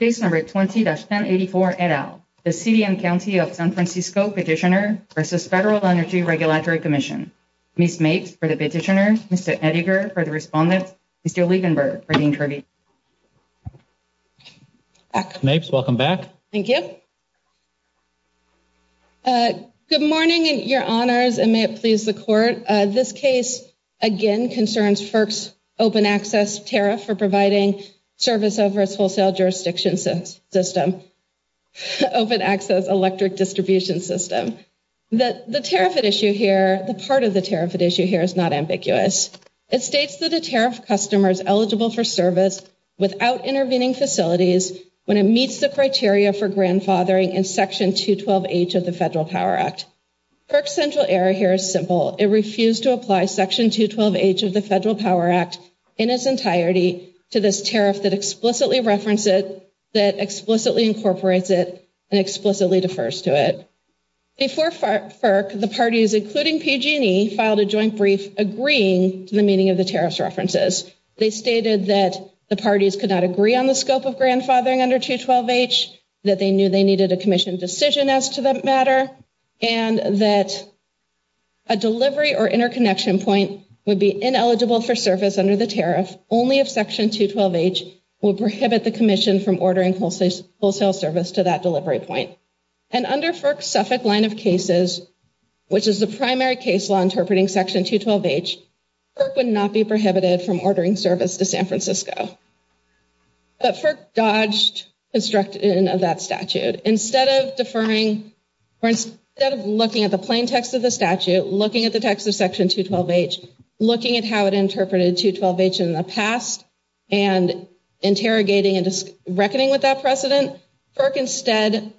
20-1084 et al. The City and County of San Francisco Petitioner vs. Federal Energy Regulatory Commission. Ms. Mapes for the Petitioner, Mr. Ettinger for the Respondent, Mr. Lievenberg for the Interviewer. Ms. Mapes, welcome back. Thank you. Good morning, Your Honors, and may it please the Court, this case again concerns FERC's open access tariff for providing service over its wholesale jurisdiction system, open access electric distribution system. The tariff at issue here, the part of the tariff at issue here is not ambiguous. It states that a tariff customer is eligible for service without intervening facilities when it meets the criteria for grandfathering in Section 212H of the Federal Power Act. FERC's central error here is simple. It refused to apply Section 212H of the Federal Power Act in its entirety to this tariff that explicitly referenced it, that explicitly incorporates it, and explicitly defers to it. Before FERC, the parties, including PG&E, filed a joint brief agreeing to the meaning of the tariff's references. They stated that the parties could not agree on the scope of grandfathering under 212H, that they knew they needed a commission decision as to that matter, and that a delivery or interconnection point would be ineligible for service under the tariff only if Section 212H would prohibit the commission from ordering wholesale service to that delivery point. And under FERC's Suffolk line of cases, which is the primary case law interpreting Section 212H, FERC would not be prohibited from ordering service to San Francisco. But FERC dodged construction of that statute. Instead of deferring, or instead of looking at the plain text of the statute, looking at the text of Section 212H, looking at how it interpreted 212H in the past, and interrogating and reckoning with that precedent, FERC instead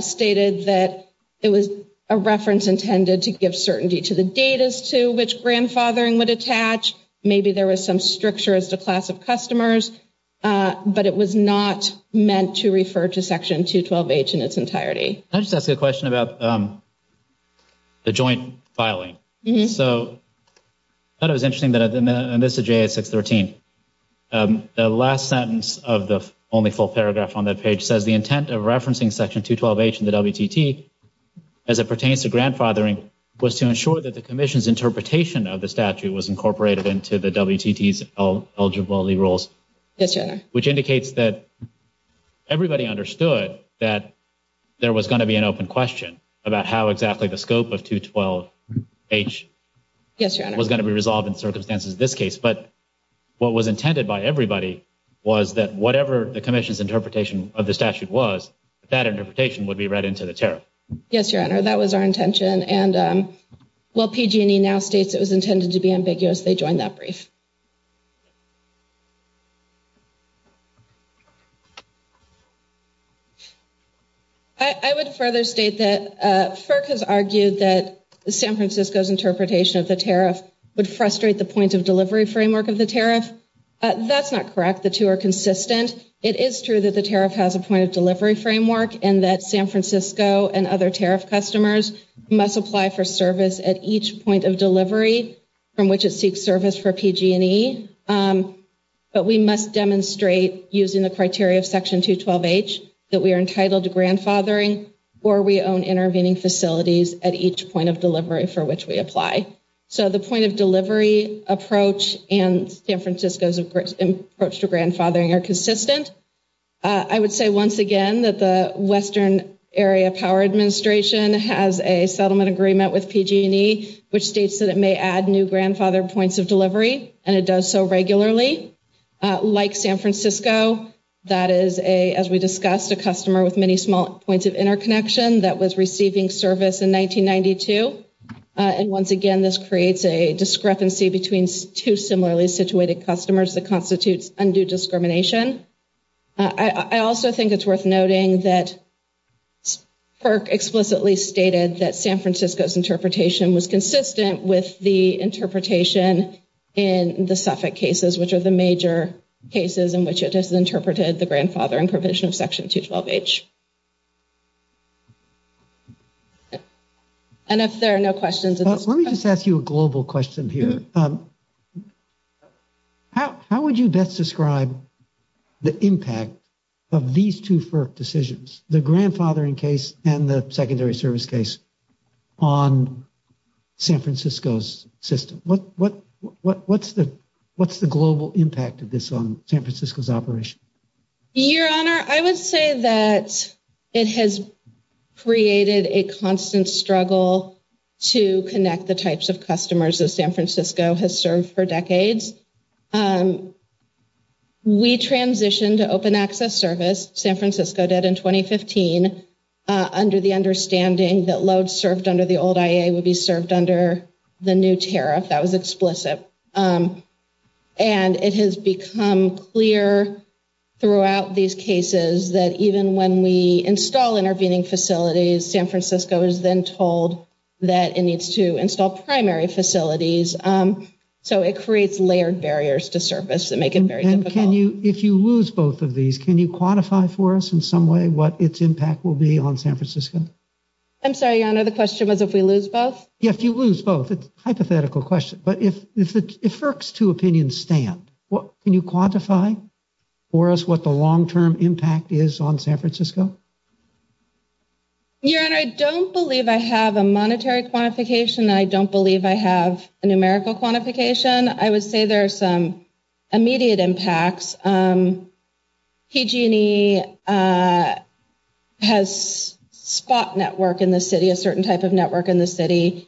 stated that it was a reference intended to give certainty to the data as to which grandfathering would attach. Maybe there was some stricture as to class of customers, but it was not meant to refer to Section 212H in its entirety. Can I just ask a question about the joint filing? So, I thought it was interesting that, and this is JAS 613, the last sentence of the only full paragraph on that page says the intent of referencing Section 212H in the WTT as it pertains to grandfathering was to ensure that the commission's interpretation of the statute was incorporated into the WTT's eligibility rules. Yes, Your Honor. Which indicates that everybody understood that there was going to be an open question about how exactly the scope of 212H was going to be resolved in circumstances in this case. But what was intended by everybody was that whatever the commission's interpretation of the statute was, that interpretation would be read into the tariff. Yes, Your Honor, that was our intention. And while PG&E now states it was intended to be ambiguous, they joined that brief. I would further state that FERC has argued that San Francisco's interpretation of the tariff would frustrate the point of delivery framework of the tariff. That's not correct. The two are consistent. It is true that the tariff has a point of delivery framework and that San Francisco and other tariff customers must apply for service at each point of delivery from which it seeks service for PG&E. But we must demonstrate using the criteria of Section 212H that we are entitled to grandfathering or we own intervening facilities at each point of delivery for which we apply. So the point of delivery approach and San Francisco's approach to grandfathering are consistent. I would say once again that the Western Area Power Administration has a settlement agreement with PG&E which states that it may add new grandfather points of delivery, and it does so regularly. Like San Francisco, that is a, as we discussed, a customer with many small points of interconnection that was receiving service in 1992. And once again, this creates a discrepancy between two similarly situated customers that constitutes undue discrimination. I also think it's worth noting that FERC explicitly stated that San Francisco's interpretation was consistent with the interpretation in the Suffolk cases, which are the major cases in which it has interpreted the grandfathering provision of Section 212H. Let me just ask you a global question here. How would you best describe the impact of these two FERC decisions, the grandfathering case and the secondary service case, on San Francisco's system? What's the global impact of this on San Francisco's operation? Your Honor, I would say that it has created a constant struggle to connect the types of customers that San Francisco has served for decades. We transitioned to open access service, San Francisco did in 2015, under the understanding that loads served under the old IA would be served under the new tariff. That was explicit. And it has become clear throughout these cases that even when we install intervening facilities, San Francisco is then told that it needs to install primary facilities. So it creates layered barriers to service that make it very difficult. And can you, if you lose both of these, can you quantify for us in some way what its impact will be on San Francisco? I'm sorry, Your Honor, the question was if we lose both? Yeah, if you lose both, it's a hypothetical question. But if FERC's two opinions stand, can you quantify for us what the long-term impact is on San Francisco? Your Honor, I don't believe I have a monetary quantification. I don't believe I have a numerical quantification. I would say there are some immediate impacts. PG&E has spot network in the city, a certain type of network in the city,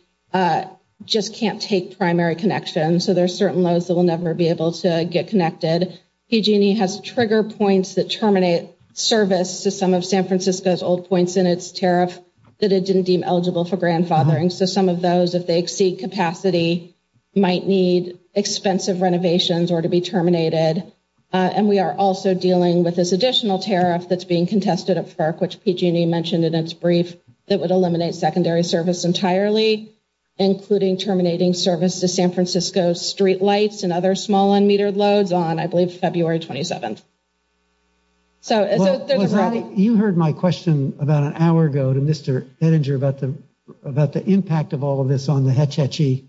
just can't take primary connections. So there are certain loads that will never be able to get connected. PG&E has trigger points that terminate service to some of San Francisco's old points in its tariff that it didn't deem eligible for grandfathering. So some of those, if they exceed capacity, might need expensive renovations or to be terminated. And we are also dealing with this additional tariff that's being contested at FERC, which PG&E mentioned in its brief, that would eliminate secondary service entirely, including terminating service to San Francisco's street lights and other small unmetered loads on, I believe, February 27th. You heard my question about an hour ago to Mr. Hettinger about the impact of all of this on the Hetch Hetchy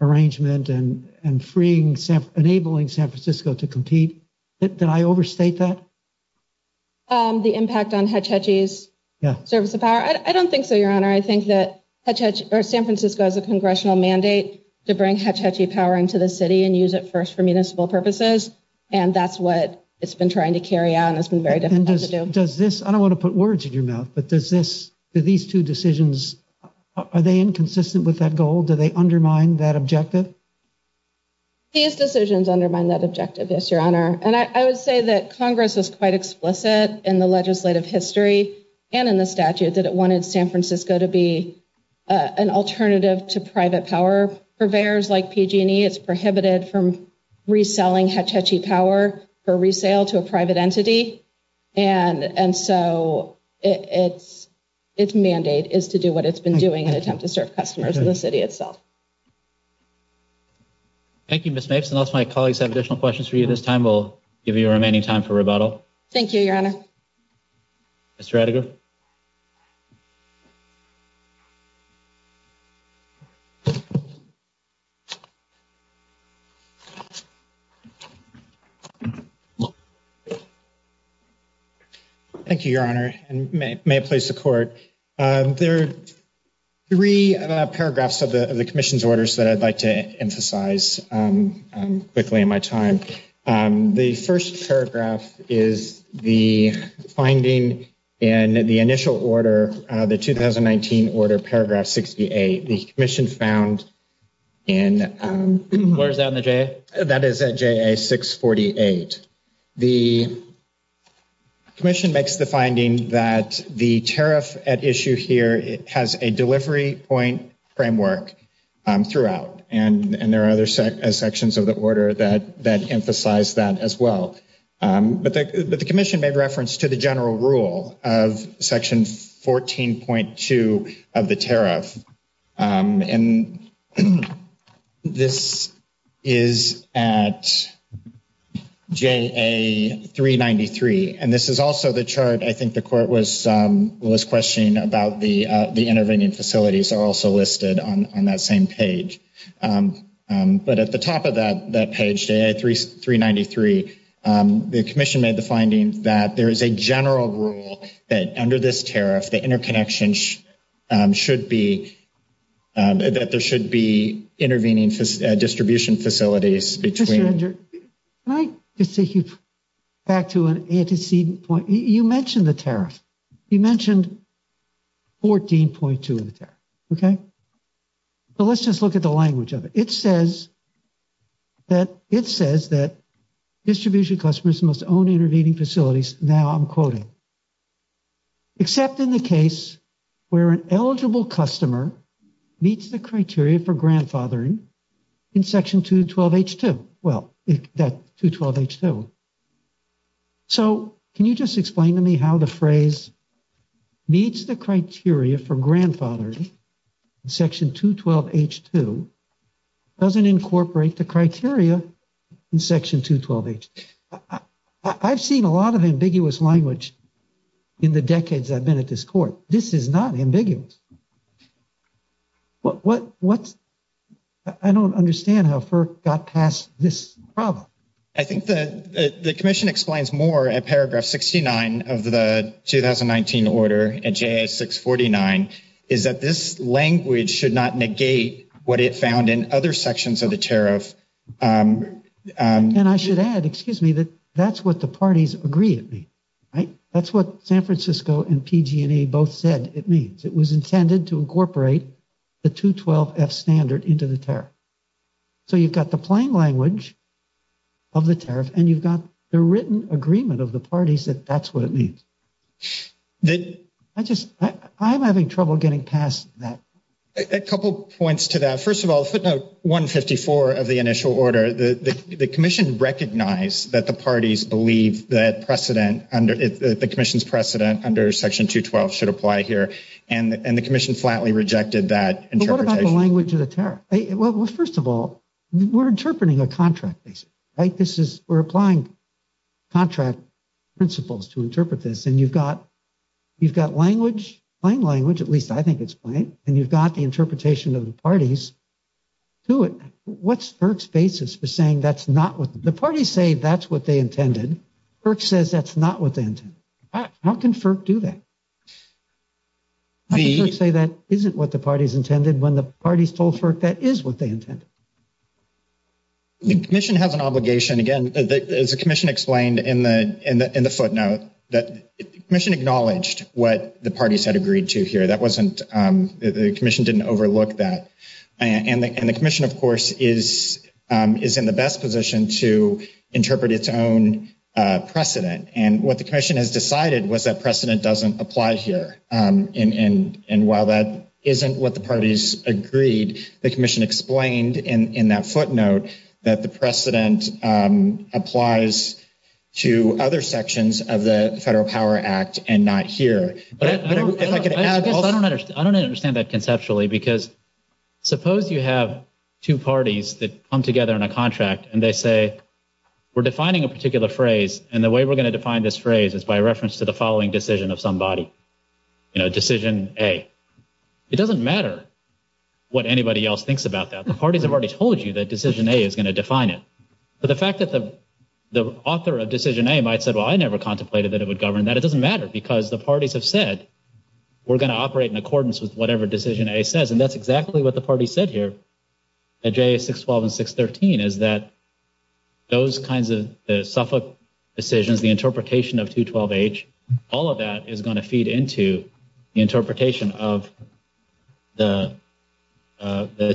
arrangement and freeing, enabling San Francisco to compete. Did I overstate that? The impact on Hetch Hetchy's service of power? I don't think so, Your Honor. I think that San Francisco has a congressional mandate to bring Hetch Hetchy power into the city and use it first for municipal purposes. And that's what it's been trying to carry out and it's been very difficult to do. I don't want to put words in your mouth, but do these two decisions, are they inconsistent with that goal? Do they undermine that objective? These decisions undermine that objective, yes, Your Honor. And I would say that Congress was quite explicit in the legislative history and in the statute that it wanted San Francisco to be an alternative to private power purveyors like PG&E. It's prohibited from reselling Hetch Hetchy power for resale to a private entity. And so its mandate is to do what it's been doing in an attempt to serve customers in the city itself. Thank you, Ms. Mapes. Unless my colleagues have additional questions for you this time, we'll give you the remaining time for rebuttal. Thank you, Your Honor. Mr. Adegar. Thank you, Your Honor, and may it please the Court. There are three paragraphs of the Commission's orders that I'd like to emphasize quickly in my time. The first paragraph is the finding in the initial order, the 2019 order, paragraph 68. The Commission found in… Where is that in the JA? That is at JA 648. The Commission makes the finding that the tariff at issue here has a delivery point framework throughout. And there are other sections of the order that emphasize that as well. But the Commission made reference to the general rule of section 14.2 of the tariff. And this is at JA 393. And this is also the chart I think the Court was questioning about the intervening facilities are also listed on that same page. But at the top of that page, JA 393, the Commission made the finding that there is a general rule that under this tariff, the interconnection should be… That there should be intervening distribution facilities between… Mr. Adegar, can I just take you back to an antecedent point? You mentioned the tariff. You mentioned 14.2 of the tariff, okay? But let's just look at the language of it. It says that distribution customers must own intervening facilities. Now I'm quoting. Except in the case where an eligible customer meets the criteria for grandfathering in section 212H2. Well, that's 212H2. So, can you just explain to me how the phrase meets the criteria for grandfathering in section 212H2 doesn't incorporate the criteria in section 212H2? I've seen a lot of ambiguous language in the decades I've been at this Court. This is not ambiguous. What's… I don't understand how FERC got past this problem. I think the Commission explains more at paragraph 69 of the 2019 order at J.S. 649, is that this language should not negate what it found in other sections of the tariff. And I should add, excuse me, that that's what the parties agree it means, right? That's what San Francisco and PG&E both said it means. It was intended to incorporate the 212F standard into the tariff. So you've got the plain language of the tariff, and you've got the written agreement of the parties that that's what it means. I just… I'm having trouble getting past that. A couple points to that. First of all, footnote 154 of the initial order, the Commission recognized that the parties believe that precedent under… the Commission's precedent under section 212 should apply here, and the Commission flatly rejected that interpretation. But what about the language of the tariff? Well, first of all, we're interpreting a contract basis, right? This is… we're applying contract principles to interpret this. And you've got language, plain language, at least I think it's plain, and you've got the interpretation of the parties to it. What's FERC's basis for saying that's not what… the parties say that's what they intended. FERC says that's not what they intended. How can FERC do that? How can FERC say that isn't what the parties intended when the parties told FERC that is what they intended? The Commission has an obligation. Again, as the Commission explained in the footnote, the Commission acknowledged what the parties had agreed to here. That wasn't… the Commission didn't overlook that. And the Commission, of course, is in the best position to interpret its own precedent. And what the Commission has decided was that precedent doesn't apply here. And while that isn't what the parties agreed, the Commission explained in that footnote that the precedent applies to other sections of the Federal Power Act and not here. I guess I don't understand that conceptually because suppose you have two parties that come together in a contract and they say, we're defining a particular phrase, and the way we're going to define this phrase is by reference to the following decision of somebody. You know, decision A. It doesn't matter what anybody else thinks about that. The parties have already told you that decision A is going to define it. But the fact that the author of decision A might say, well, I never contemplated that it would govern that. That doesn't matter because the parties have said, we're going to operate in accordance with whatever decision A says. And that's exactly what the parties said here at JA 612 and 613 is that those kinds of Suffolk decisions, the interpretation of 212H, all of that is going to feed into the interpretation of the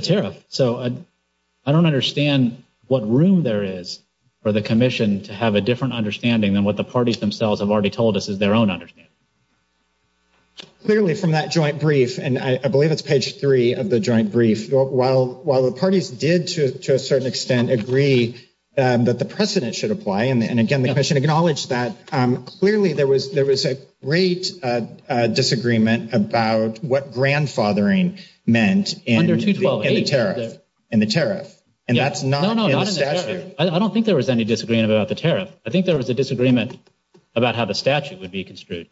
tariff. So I don't understand what room there is for the Commission to have a different understanding than what the parties themselves have already told us is their own understanding. Clearly from that joint brief, and I believe it's page three of the joint brief, while the parties did to a certain extent agree that the precedent should apply, and again, the Commission acknowledged that, clearly there was a great disagreement about what grandfathering meant in the tariff. And that's not in the statute. I don't think there was any disagreement about the tariff. I think there was a disagreement about how the statute would be construed.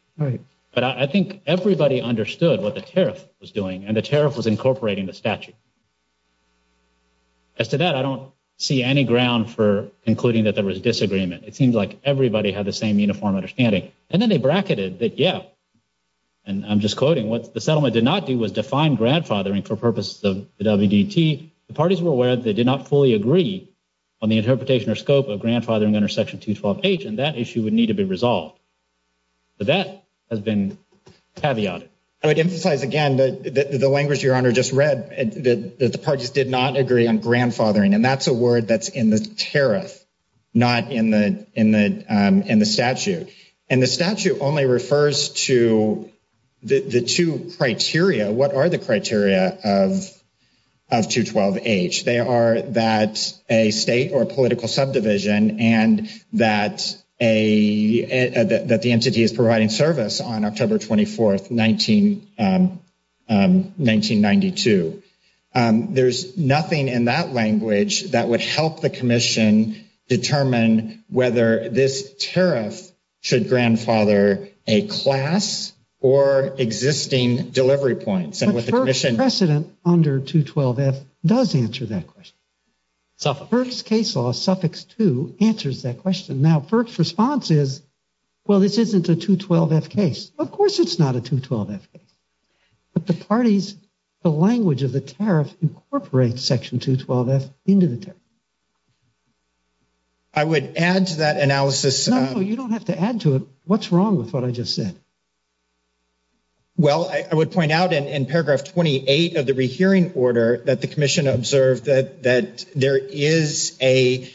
But I think everybody understood what the tariff was doing, and the tariff was incorporating the statute. As to that, I don't see any ground for concluding that there was disagreement. It seems like everybody had the same uniform understanding. And then they bracketed that, yeah, and I'm just quoting, what the settlement did not do was define grandfathering for purposes of the WDT. The parties were aware that they did not fully agree on the interpretation or scope of grandfathering under Section 212H, and that issue would need to be resolved. But that has been caveated. I would emphasize again that the language Your Honor just read, that the parties did not agree on grandfathering, and that's a word that's in the tariff, not in the statute. And the statute only refers to the two criteria. What are the criteria of 212H? They are that a state or political subdivision and that the entity is providing service on October 24th, 1992. There's nothing in that language that would help the commission determine whether this tariff should grandfather a class or existing delivery points. But FERC's precedent under 212F does answer that question. FERC's case law, suffix 2, answers that question. Now, FERC's response is, well, this isn't a 212F case. Of course it's not a 212F case. But the parties, the language of the tariff incorporates Section 212F into the tariff. I would add to that analysis. No, you don't have to add to it. What's wrong with what I just said? Well, I would point out in paragraph 28 of the rehearing order that the commission observed that there is a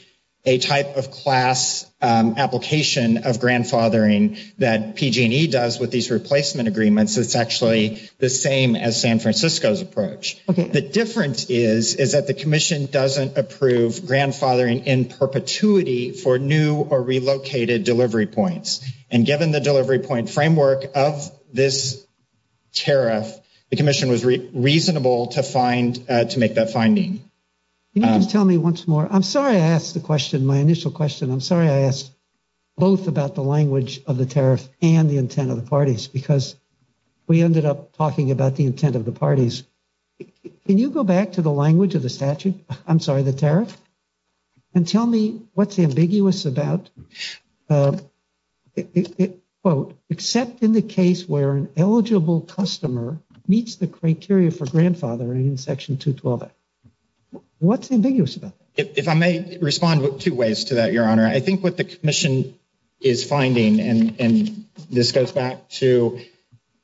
type of class application of grandfathering that PG&E does with these replacement agreements that's actually the same as San Francisco's approach. The difference is, is that the commission doesn't approve grandfathering in perpetuity for new or relocated delivery points. And given the delivery point framework of this tariff, the commission was reasonable to find, to make that finding. Can you just tell me once more? I'm sorry I asked the question, my initial question. I'm sorry I asked both about the language of the tariff and the intent of the parties, because we ended up talking about the intent of the parties. Can you go back to the language of the statute, I'm sorry, the tariff, and tell me what's ambiguous about, quote, except in the case where an eligible customer meets the criteria for grandfathering in section 212. What's ambiguous about that? If I may respond two ways to that, Your Honor. I think what the commission is finding, and this goes back to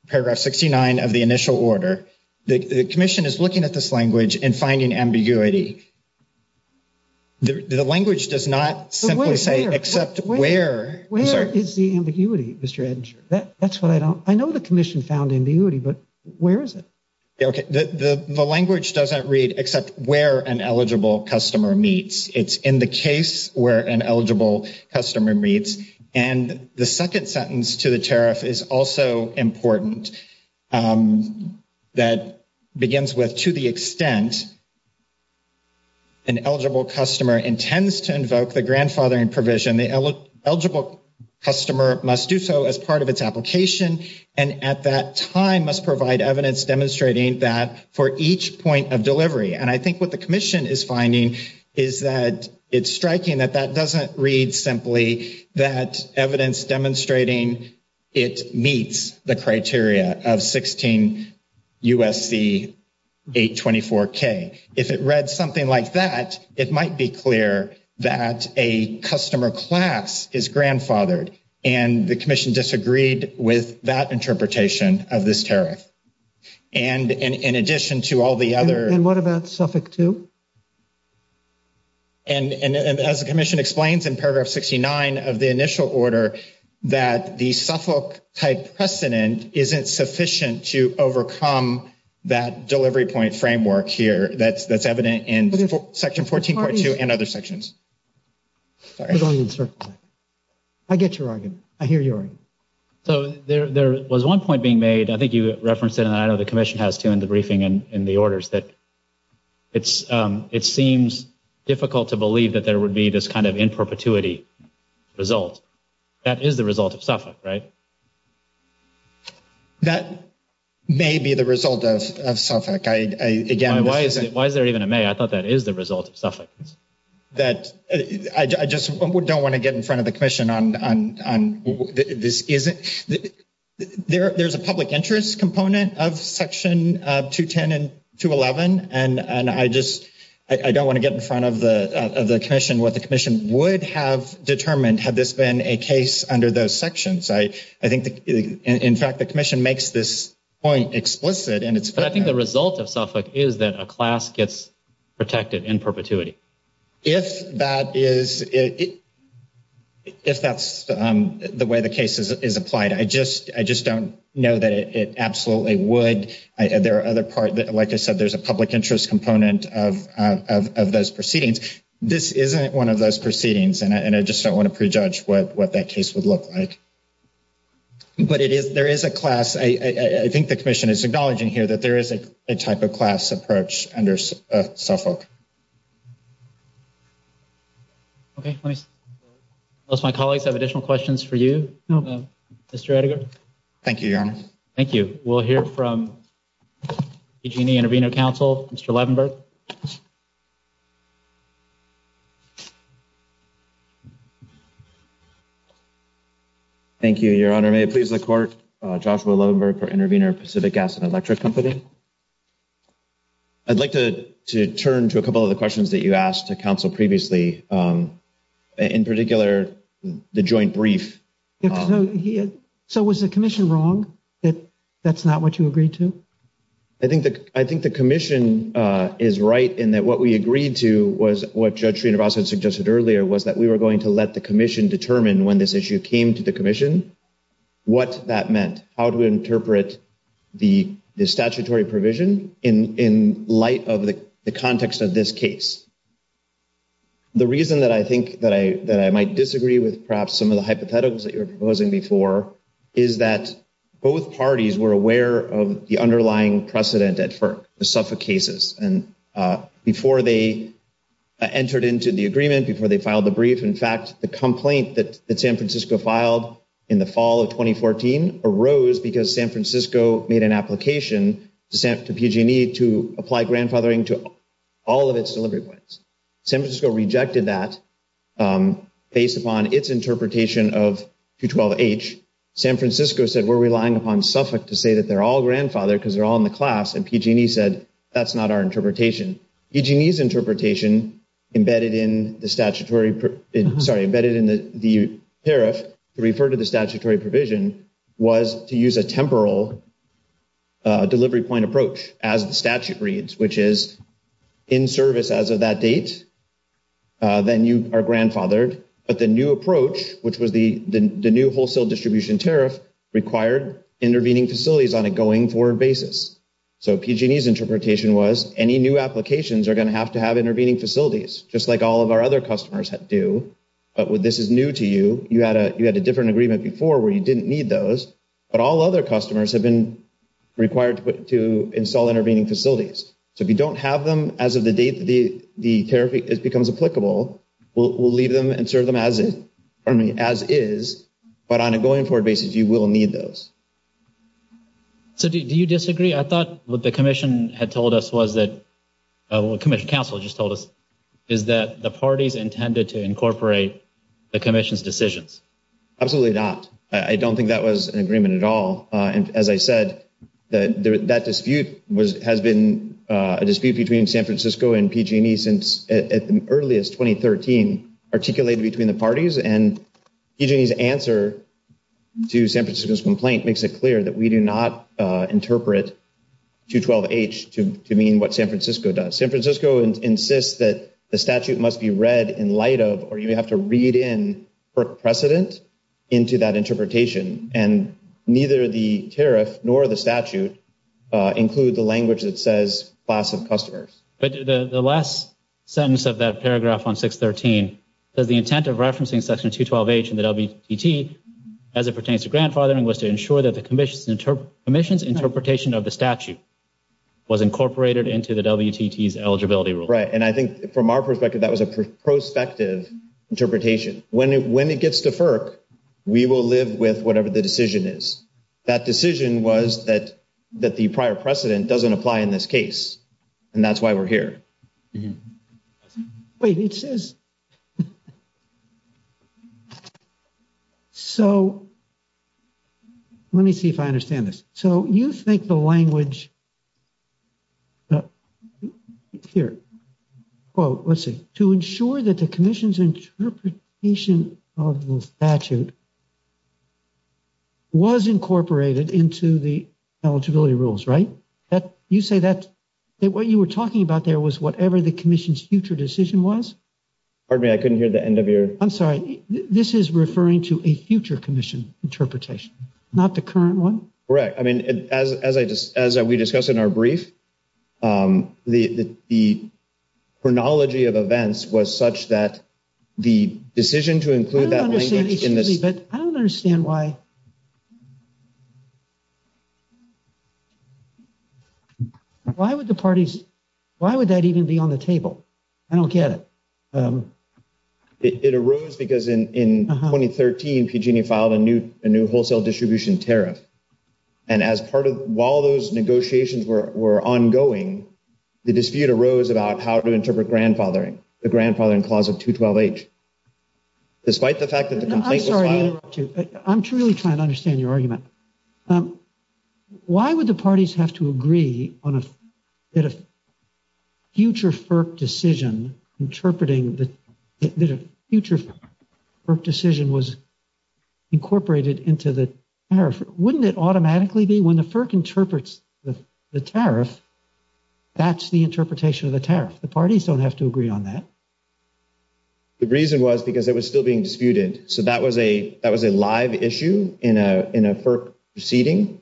paragraph 69 of the initial order, the commission is looking at this language and finding ambiguity. The language does not simply say except where. Where is the ambiguity, Mr. Edenshaw? That's what I don't, I know the commission found ambiguity, but where is it? Okay. The language doesn't read except where an eligible customer meets. It's in the case where an eligible customer meets. And the second sentence to the tariff is also important. That begins with, to the extent an eligible customer intends to invoke the grandfathering provision, the eligible customer must do so as part of its application, and at that time must provide evidence demonstrating that for each point of delivery. And I think what the commission is finding is that it's striking that that doesn't read simply that evidence demonstrating it meets the criteria of 16 U.S.C. 824K. If it read something like that, it might be clear that a customer class is grandfathered, and the commission disagreed with that interpretation of this tariff. And in addition to all the other. And what about suffix two? And as the commission explains in paragraph 69 of the initial order, that the Suffolk-type precedent isn't sufficient to overcome that delivery point framework here, that's evident in section 14.2 and other sections. I get your argument. I hear your argument. So there was one point being made, I think you referenced it, and I know the commission has too in the briefing and in the orders, that it seems difficult to believe that there would be this kind of in perpetuity result. That is the result of Suffolk, right? That may be the result of Suffolk. Why is there even a may? I thought that is the result of Suffolk. I just don't want to get in front of the commission on this. There's a public interest component of section 210 and 211, and I just don't want to get in front of the commission what the commission would have determined had this been a case under those sections. I think, in fact, the commission makes this point explicit. But I think the result of Suffolk is that a class gets protected in perpetuity. If that's the way the case is applied, I just don't know that it absolutely would. There are other parts, like I said, there's a public interest component of those proceedings. This isn't one of those proceedings, and I just don't want to prejudge what that case would look like. But there is a class. I think the commission is acknowledging here that there is a type of class approach under Suffolk. Okay. My colleagues have additional questions for you. Thank you, Your Honor. Thank you. We'll hear from PG&E Intervenor Counsel, Mr. Levenberg. Thank you, Your Honor. May it please the court, Joshua Levenberg for Intervenor Pacific Gas and Electric Company. I'd like to turn to a couple of the questions that you asked the counsel previously, in particular the joint brief. So was the commission wrong that that's not what you agreed to? I think the commission is right in that what we agreed to was what Judge Srinivasan suggested earlier, was that we were going to let the commission determine when this issue came to the commission what that meant, how to interpret the statutory provision in light of the context of this case. The reason that I think that I might disagree with perhaps some of the hypotheticals that you were proposing before is that both parties were aware of the underlying precedent at FERC, the Suffolk cases. And before they entered into the agreement, before they filed the brief, in fact, the complaint that San Francisco filed in the fall of 2014 arose because San Francisco made an application to PG&E to apply grandfathering to all of its delivery points. San Francisco rejected that based upon its interpretation of 212H. San Francisco said we're relying upon Suffolk to say that they're all grandfathered because they're all in the class, and PG&E said that's not our interpretation. PG&E's interpretation embedded in the statutory – sorry, embedded in the tariff to refer to the statutory provision was to use a temporal delivery point approach, as the statute reads, which is in service as of that date, then you are grandfathered. But the new approach, which was the new wholesale distribution tariff, required intervening facilities on a going-forward basis. So PG&E's interpretation was any new applications are going to have to have intervening facilities, just like all of our other customers do. But this is new to you. You had a different agreement before where you didn't need those, but all other customers have been required to install intervening facilities. So if you don't have them as of the date the tariff becomes applicable, we'll leave them and serve them as is, but on a going-forward basis, you will need those. So do you disagree? I thought what the Commission had told us was that – what Commission counsel just told us is that the parties intended to incorporate the Commission's decisions. Absolutely not. I don't think that was an agreement at all. As I said, that dispute has been a dispute between San Francisco and PG&E since at the earliest, 2013, articulated between the parties, and PG&E's answer to San Francisco's complaint makes it clear that we do not interpret 212H to mean what San Francisco does. San Francisco insists that the statute must be read in light of, or you have to read in precedent into that interpretation, and neither the tariff nor the statute include the language that says class of customers. The last sentence of that paragraph on 613 says, The intent of referencing section 212H in the WTT as it pertains to grandfathering was to ensure that the Commission's interpretation of the statute was incorporated into the WTT's eligibility rules. Right, and I think from our perspective, that was a prospective interpretation. When it gets to FERC, we will live with whatever the decision is. That decision was that the prior precedent doesn't apply in this case, and that's why we're here. Wait, it says. So let me see if I understand this. So you think the language, here, well, let's see, to ensure that the Commission's interpretation of the statute was incorporated into the eligibility rules, right? You say that what you were talking about there was whatever the Commission's future decision was? Pardon me, I couldn't hear the end of your. I'm sorry. This is referring to a future Commission interpretation, not the current one? Correct. I mean, as we discussed in our brief, the chronology of events was such that the decision to include that language in this. But I don't understand why. Why would the parties, why would that even be on the table? I don't get it. It arose because in 2013, PG&E filed a new wholesale distribution tariff. And as part of, while those negotiations were ongoing, the dispute arose about how to interpret grandfathering, the grandfathering clause of 212H. Despite the fact that the complaint was filed. I'm sorry to interrupt you. I'm truly trying to understand your argument. Why would the parties have to agree that a future FERC decision was incorporated into the tariff? Wouldn't it automatically be? When the FERC interprets the tariff, that's the interpretation of the tariff. The parties don't have to agree on that. The reason was because it was still being disputed. So that was a live issue in a FERC proceeding.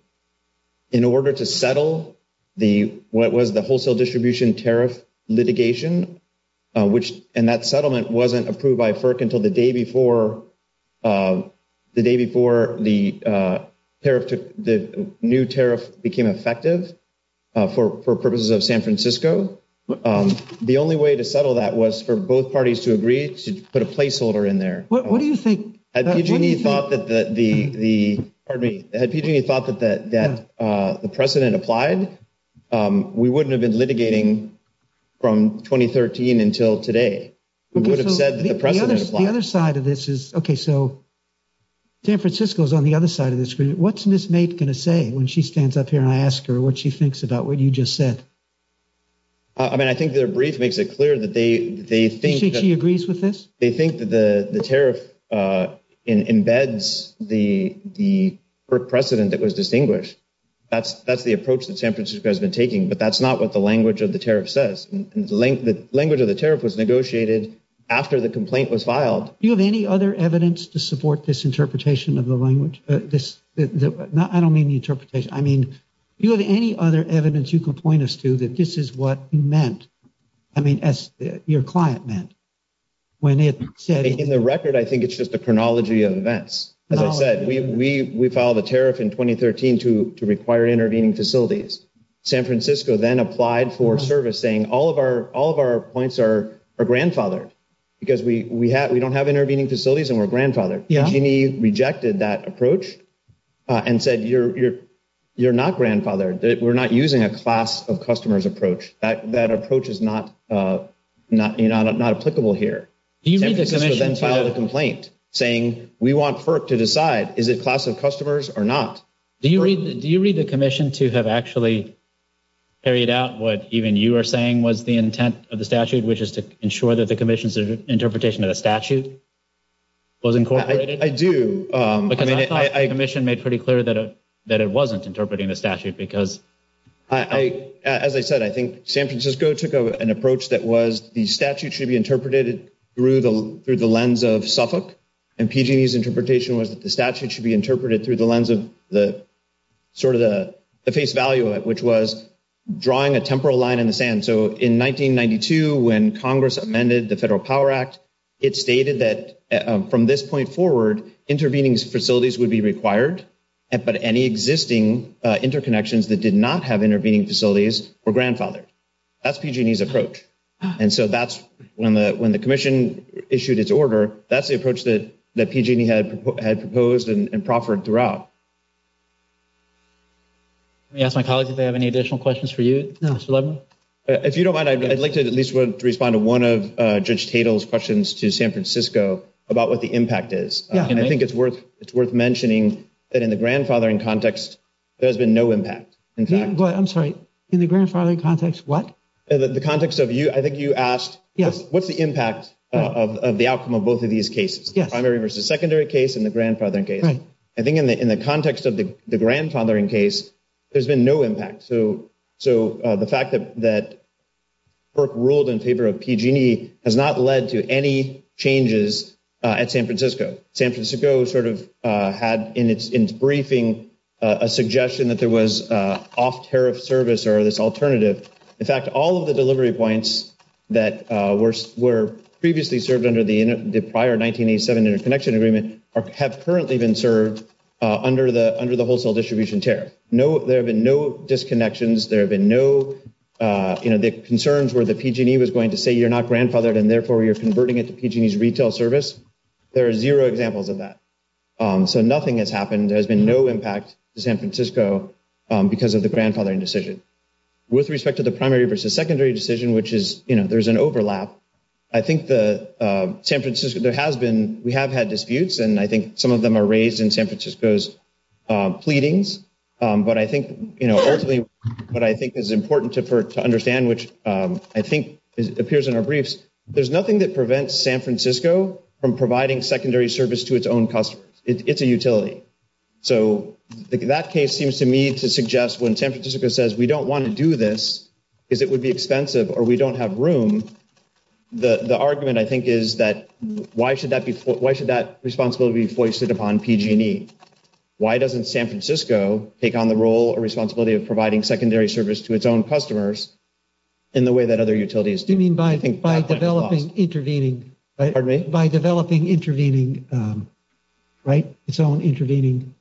In order to settle what was the wholesale distribution tariff litigation, and that settlement wasn't approved by FERC until the day before the new tariff became effective for purposes of San Francisco. The only way to settle that was for both parties to agree to put a placeholder in there. What do you think? Had PG&E thought that the president applied, we wouldn't have been litigating from 2013 until today. We would have said that the president applied. The other side of this is, okay, so San Francisco is on the other side of the screen. What's Ms. Maid going to say when she stands up here and I ask her what she thinks about what you just said? I mean, I think their brief makes it clear that they think she agrees with this. They think that the tariff embeds the FERC precedent that was distinguished. That's the approach that San Francisco has been taking, but that's not what the language of the tariff says. The language of the tariff was negotiated after the complaint was filed. Do you have any other evidence to support this interpretation of the language? I don't mean the interpretation. I mean, do you have any other evidence you can point us to that this is what you meant? I mean, as your client meant. In the record, I think it's just a chronology of events. As I said, we filed a tariff in 2013 to require intervening facilities. San Francisco then applied for service saying all of our points are grandfathered because we don't have intervening facilities and we're grandfathered. PG&E rejected that approach and said you're not grandfathered. We're not using a class of customers approach. That approach is not applicable here. San Francisco then filed a complaint saying we want FERC to decide is it class of customers or not. Do you read the commission to have actually carried out what even you were saying was the intent of the statute, which is to ensure that the commission's interpretation of the statute was incorporated? I do. Because I thought the commission made pretty clear that it wasn't interpreting the statute. As I said, I think San Francisco took an approach that was the statute should be interpreted through the lens of Suffolk. And PG&E's interpretation was that the statute should be interpreted through the lens of sort of the face value of it, which was drawing a temporal line in the sand. So in 1992, when Congress amended the Federal Power Act, it stated that from this point forward, intervening facilities would be required. But any existing interconnections that did not have intervening facilities were grandfathered. That's PG&E's approach. And so that's when the commission issued its order, that's the approach that PG&E had proposed and proffered throughout. Let me ask my colleagues if they have any additional questions for you, Mr. Levin. If you don't mind, I'd like to at least respond to one of Judge Tatel's questions to San Francisco about what the impact is. I think it's worth mentioning that in the grandfathering context, there has been no impact. I'm sorry. In the grandfathering context, what? In the context of you, I think you asked what's the impact of the outcome of both of these cases, the primary versus secondary case and the grandfathering case. I think in the context of the grandfathering case, there's been no impact. So the fact that FERC ruled in favor of PG&E has not led to any changes at San Francisco. San Francisco sort of had in its briefing a suggestion that there was off-tariff service or this alternative. In fact, all of the delivery points that were previously served under the prior 1987 interconnection agreement have currently been served under the wholesale distribution tariff. There have been no disconnections. There have been no concerns where the PG&E was going to say you're not grandfathered and therefore you're converting it to PG&E's retail service. There are zero examples of that. So nothing has happened. There has been no impact to San Francisco because of the grandfathering decision. With respect to the primary versus secondary decision, which is, you know, there's an overlap. I think the San Francisco, there has been, we have had disputes, and I think some of them are raised in San Francisco's pleadings. But I think, you know, ultimately what I think is important to understand, which I think appears in our briefs, there's nothing that prevents San Francisco from providing secondary service to its own customers. It's a utility. So that case seems to me to suggest when San Francisco says we don't want to do this because it would be expensive or we don't have room, the argument I think is that why should that responsibility be foisted upon PG&E? Why doesn't San Francisco take on the role or responsibility of providing secondary service to its own customers in the way that other utilities do? What do you mean by developing intervening? Pardon me? By developing intervening, right? Its own intervening.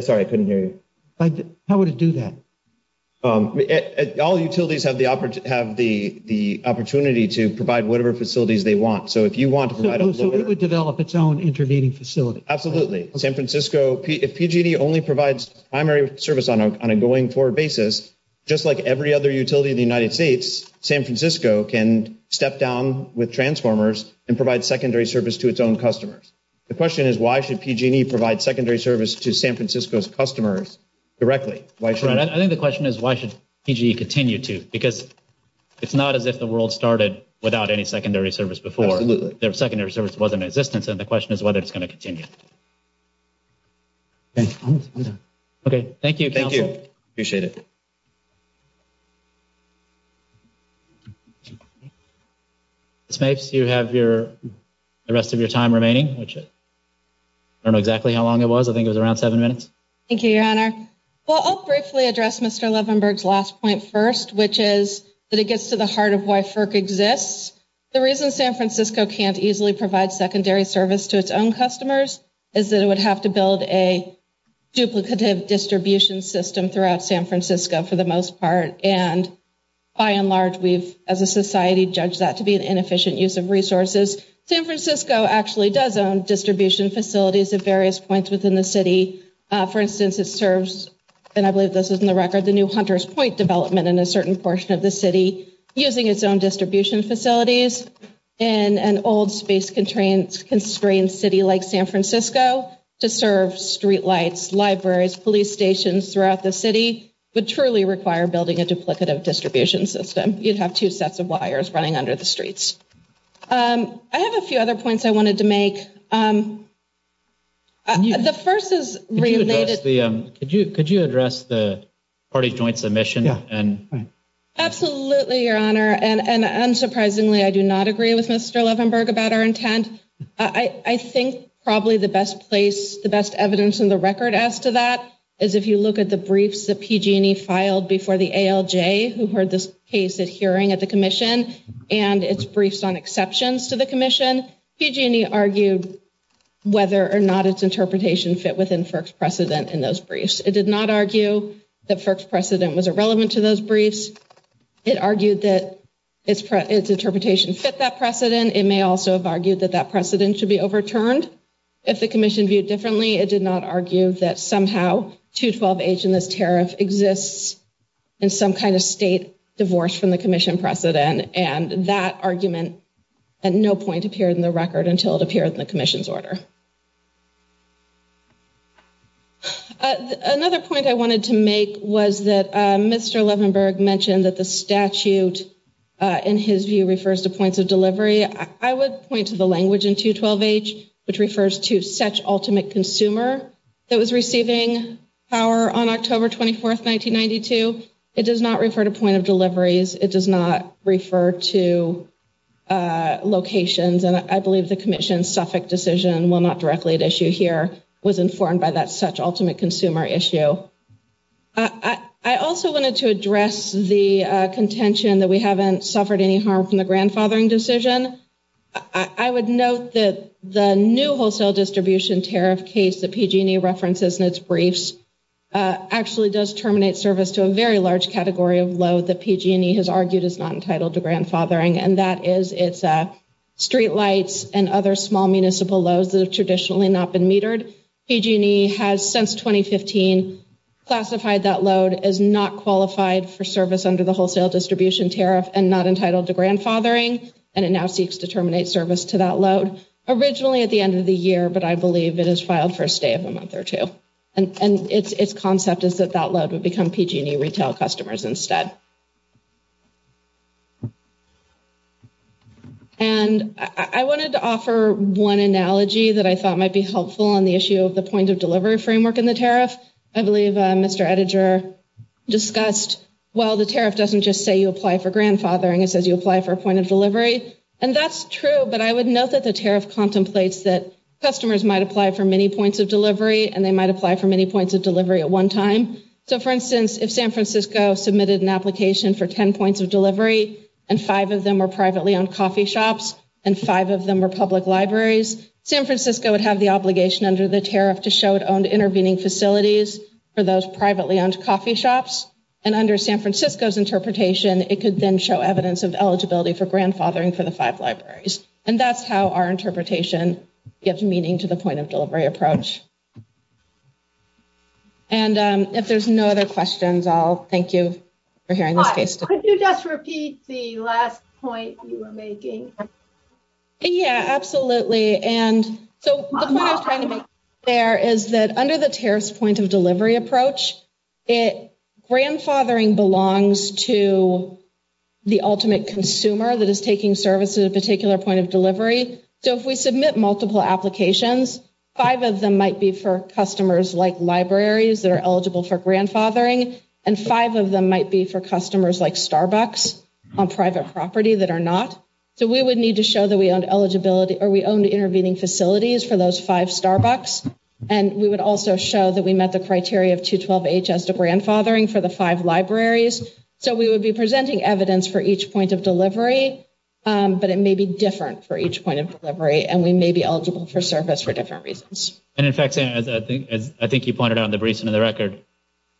Sorry, I couldn't hear you. How would it do that? All utilities have the opportunity to provide whatever facilities they want. So if you want to provide a little bit. So it would develop its own intervening facility. Absolutely. If PG&E only provides primary service on a going forward basis, just like every other utility in the United States, San Francisco can step down with transformers and provide secondary service to its own customers. The question is why should PG&E provide secondary service to San Francisco's customers directly? I think the question is why should PG&E continue to? Because it's not as if the world started without any secondary service before. Absolutely. If the secondary service wasn't in existence, then the question is whether it's going to continue. Okay, thank you, counsel. Thank you. Appreciate it. Ms. Mapes, you have the rest of your time remaining, which I don't know exactly how long it was. I think it was around seven minutes. Thank you, Your Honor. Well, I'll briefly address Mr. Levenberg's last point first, which is that it gets to the heart of why FERC exists. The reason San Francisco can't easily provide secondary service to its own customers is that it would have to build a duplicative distribution system throughout San Francisco for the most part, and by and large we've, as a society, judged that to be an inefficient use of resources. San Francisco actually does own distribution facilities at various points within the city. For instance, it serves, and I believe this is in the record, the new Hunter's Point development in a certain portion of the city using its own distribution facilities in an old space-constrained city like San Francisco to serve streetlights, libraries, police stations throughout the city would truly require building a duplicative distribution system. You'd have two sets of wires running under the streets. I have a few other points I wanted to make. The first is related. Could you address the party's joint submission? Absolutely, Your Honor, and unsurprisingly, I do not agree with Mr. Levenberg about our intent. I think probably the best evidence in the record as to that is if you look at the briefs that PG&E filed before the ALJ, who heard this case at hearing at the commission and its briefs on exceptions to the commission, when PG&E argued whether or not its interpretation fit within FERC's precedent in those briefs. It did not argue that FERC's precedent was irrelevant to those briefs. It argued that its interpretation fit that precedent. It may also have argued that that precedent should be overturned if the commission viewed differently. It did not argue that somehow 212H in this tariff exists in some kind of state divorce from the commission precedent, and that argument at no point appeared in the record until it appeared in the commission's order. Another point I wanted to make was that Mr. Levenberg mentioned that the statute, in his view, refers to points of delivery. I would point to the language in 212H, which refers to such ultimate consumer that was receiving power on October 24, 1992. It does not refer to point of deliveries. It does not refer to locations. And I believe the commission's Suffolk decision, while not directly at issue here, was informed by that such ultimate consumer issue. I also wanted to address the contention that we haven't suffered any harm from the grandfathering decision. I would note that the new wholesale distribution tariff case that PG&E references in its briefs actually does terminate service to a very large category of load that PG&E has argued is not entitled to grandfathering, and that is its streetlights and other small municipal loads that have traditionally not been metered. PG&E has, since 2015, classified that load as not qualified for service under the wholesale distribution tariff and not entitled to grandfathering, and it now seeks to terminate service to that load, originally at the end of the year, but I believe it is filed for a stay of a month or two. And its concept is that that load would become PG&E retail customers instead. And I wanted to offer one analogy that I thought might be helpful on the issue of the point of delivery framework in the tariff. I believe Mr. Ettinger discussed, well, the tariff doesn't just say you apply for grandfathering. It says you apply for a point of delivery. And that's true, but I would note that the tariff contemplates that customers might apply for many points of delivery and they might apply for many points of delivery at one time. So, for instance, if San Francisco submitted an application for 10 points of delivery and five of them were privately owned coffee shops and five of them were public libraries, San Francisco would have the obligation under the tariff to show it owned intervening facilities for those privately owned coffee shops, and under San Francisco's interpretation, it could then show evidence of eligibility for grandfathering for the five libraries. And that's how our interpretation gives meaning to the point of delivery approach. And if there's no other questions, I'll thank you for hearing this case study. Could you just repeat the last point you were making? Yeah, absolutely. And so the point I was trying to make there is that under the tariff's point of delivery approach, grandfathering belongs to the ultimate consumer that is taking service at a particular point of delivery. So if we submit multiple applications, five of them might be for customers like libraries that are eligible for grandfathering, and five of them might be for customers like Starbucks on private property that are not. So we would need to show that we owned intervening facilities for those five Starbucks, and we would also show that we met the criteria of 212-H as to grandfathering for the five libraries. So we would be presenting evidence for each point of delivery, but it may be different for each point of delivery, and we may be eligible for service for different reasons. And in fact, Sam, as I think you pointed out in the briefs and in the record,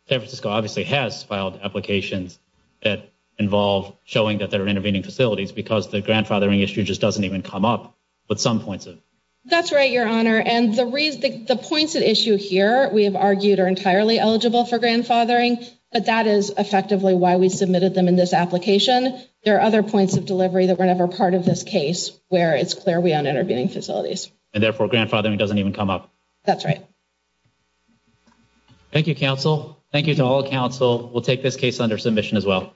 San Francisco obviously has filed applications that involve showing that they're intervening facilities because the grandfathering issue just doesn't even come up with some points. That's right, Your Honor. And the points at issue here, we have argued, are entirely eligible for grandfathering, but that is effectively why we submitted them in this application. There are other points of delivery that were never part of this case where it's clear we own intervening facilities. And therefore, grandfathering doesn't even come up. That's right. Thank you, counsel. Thank you to all counsel. We'll take this case under submission as well.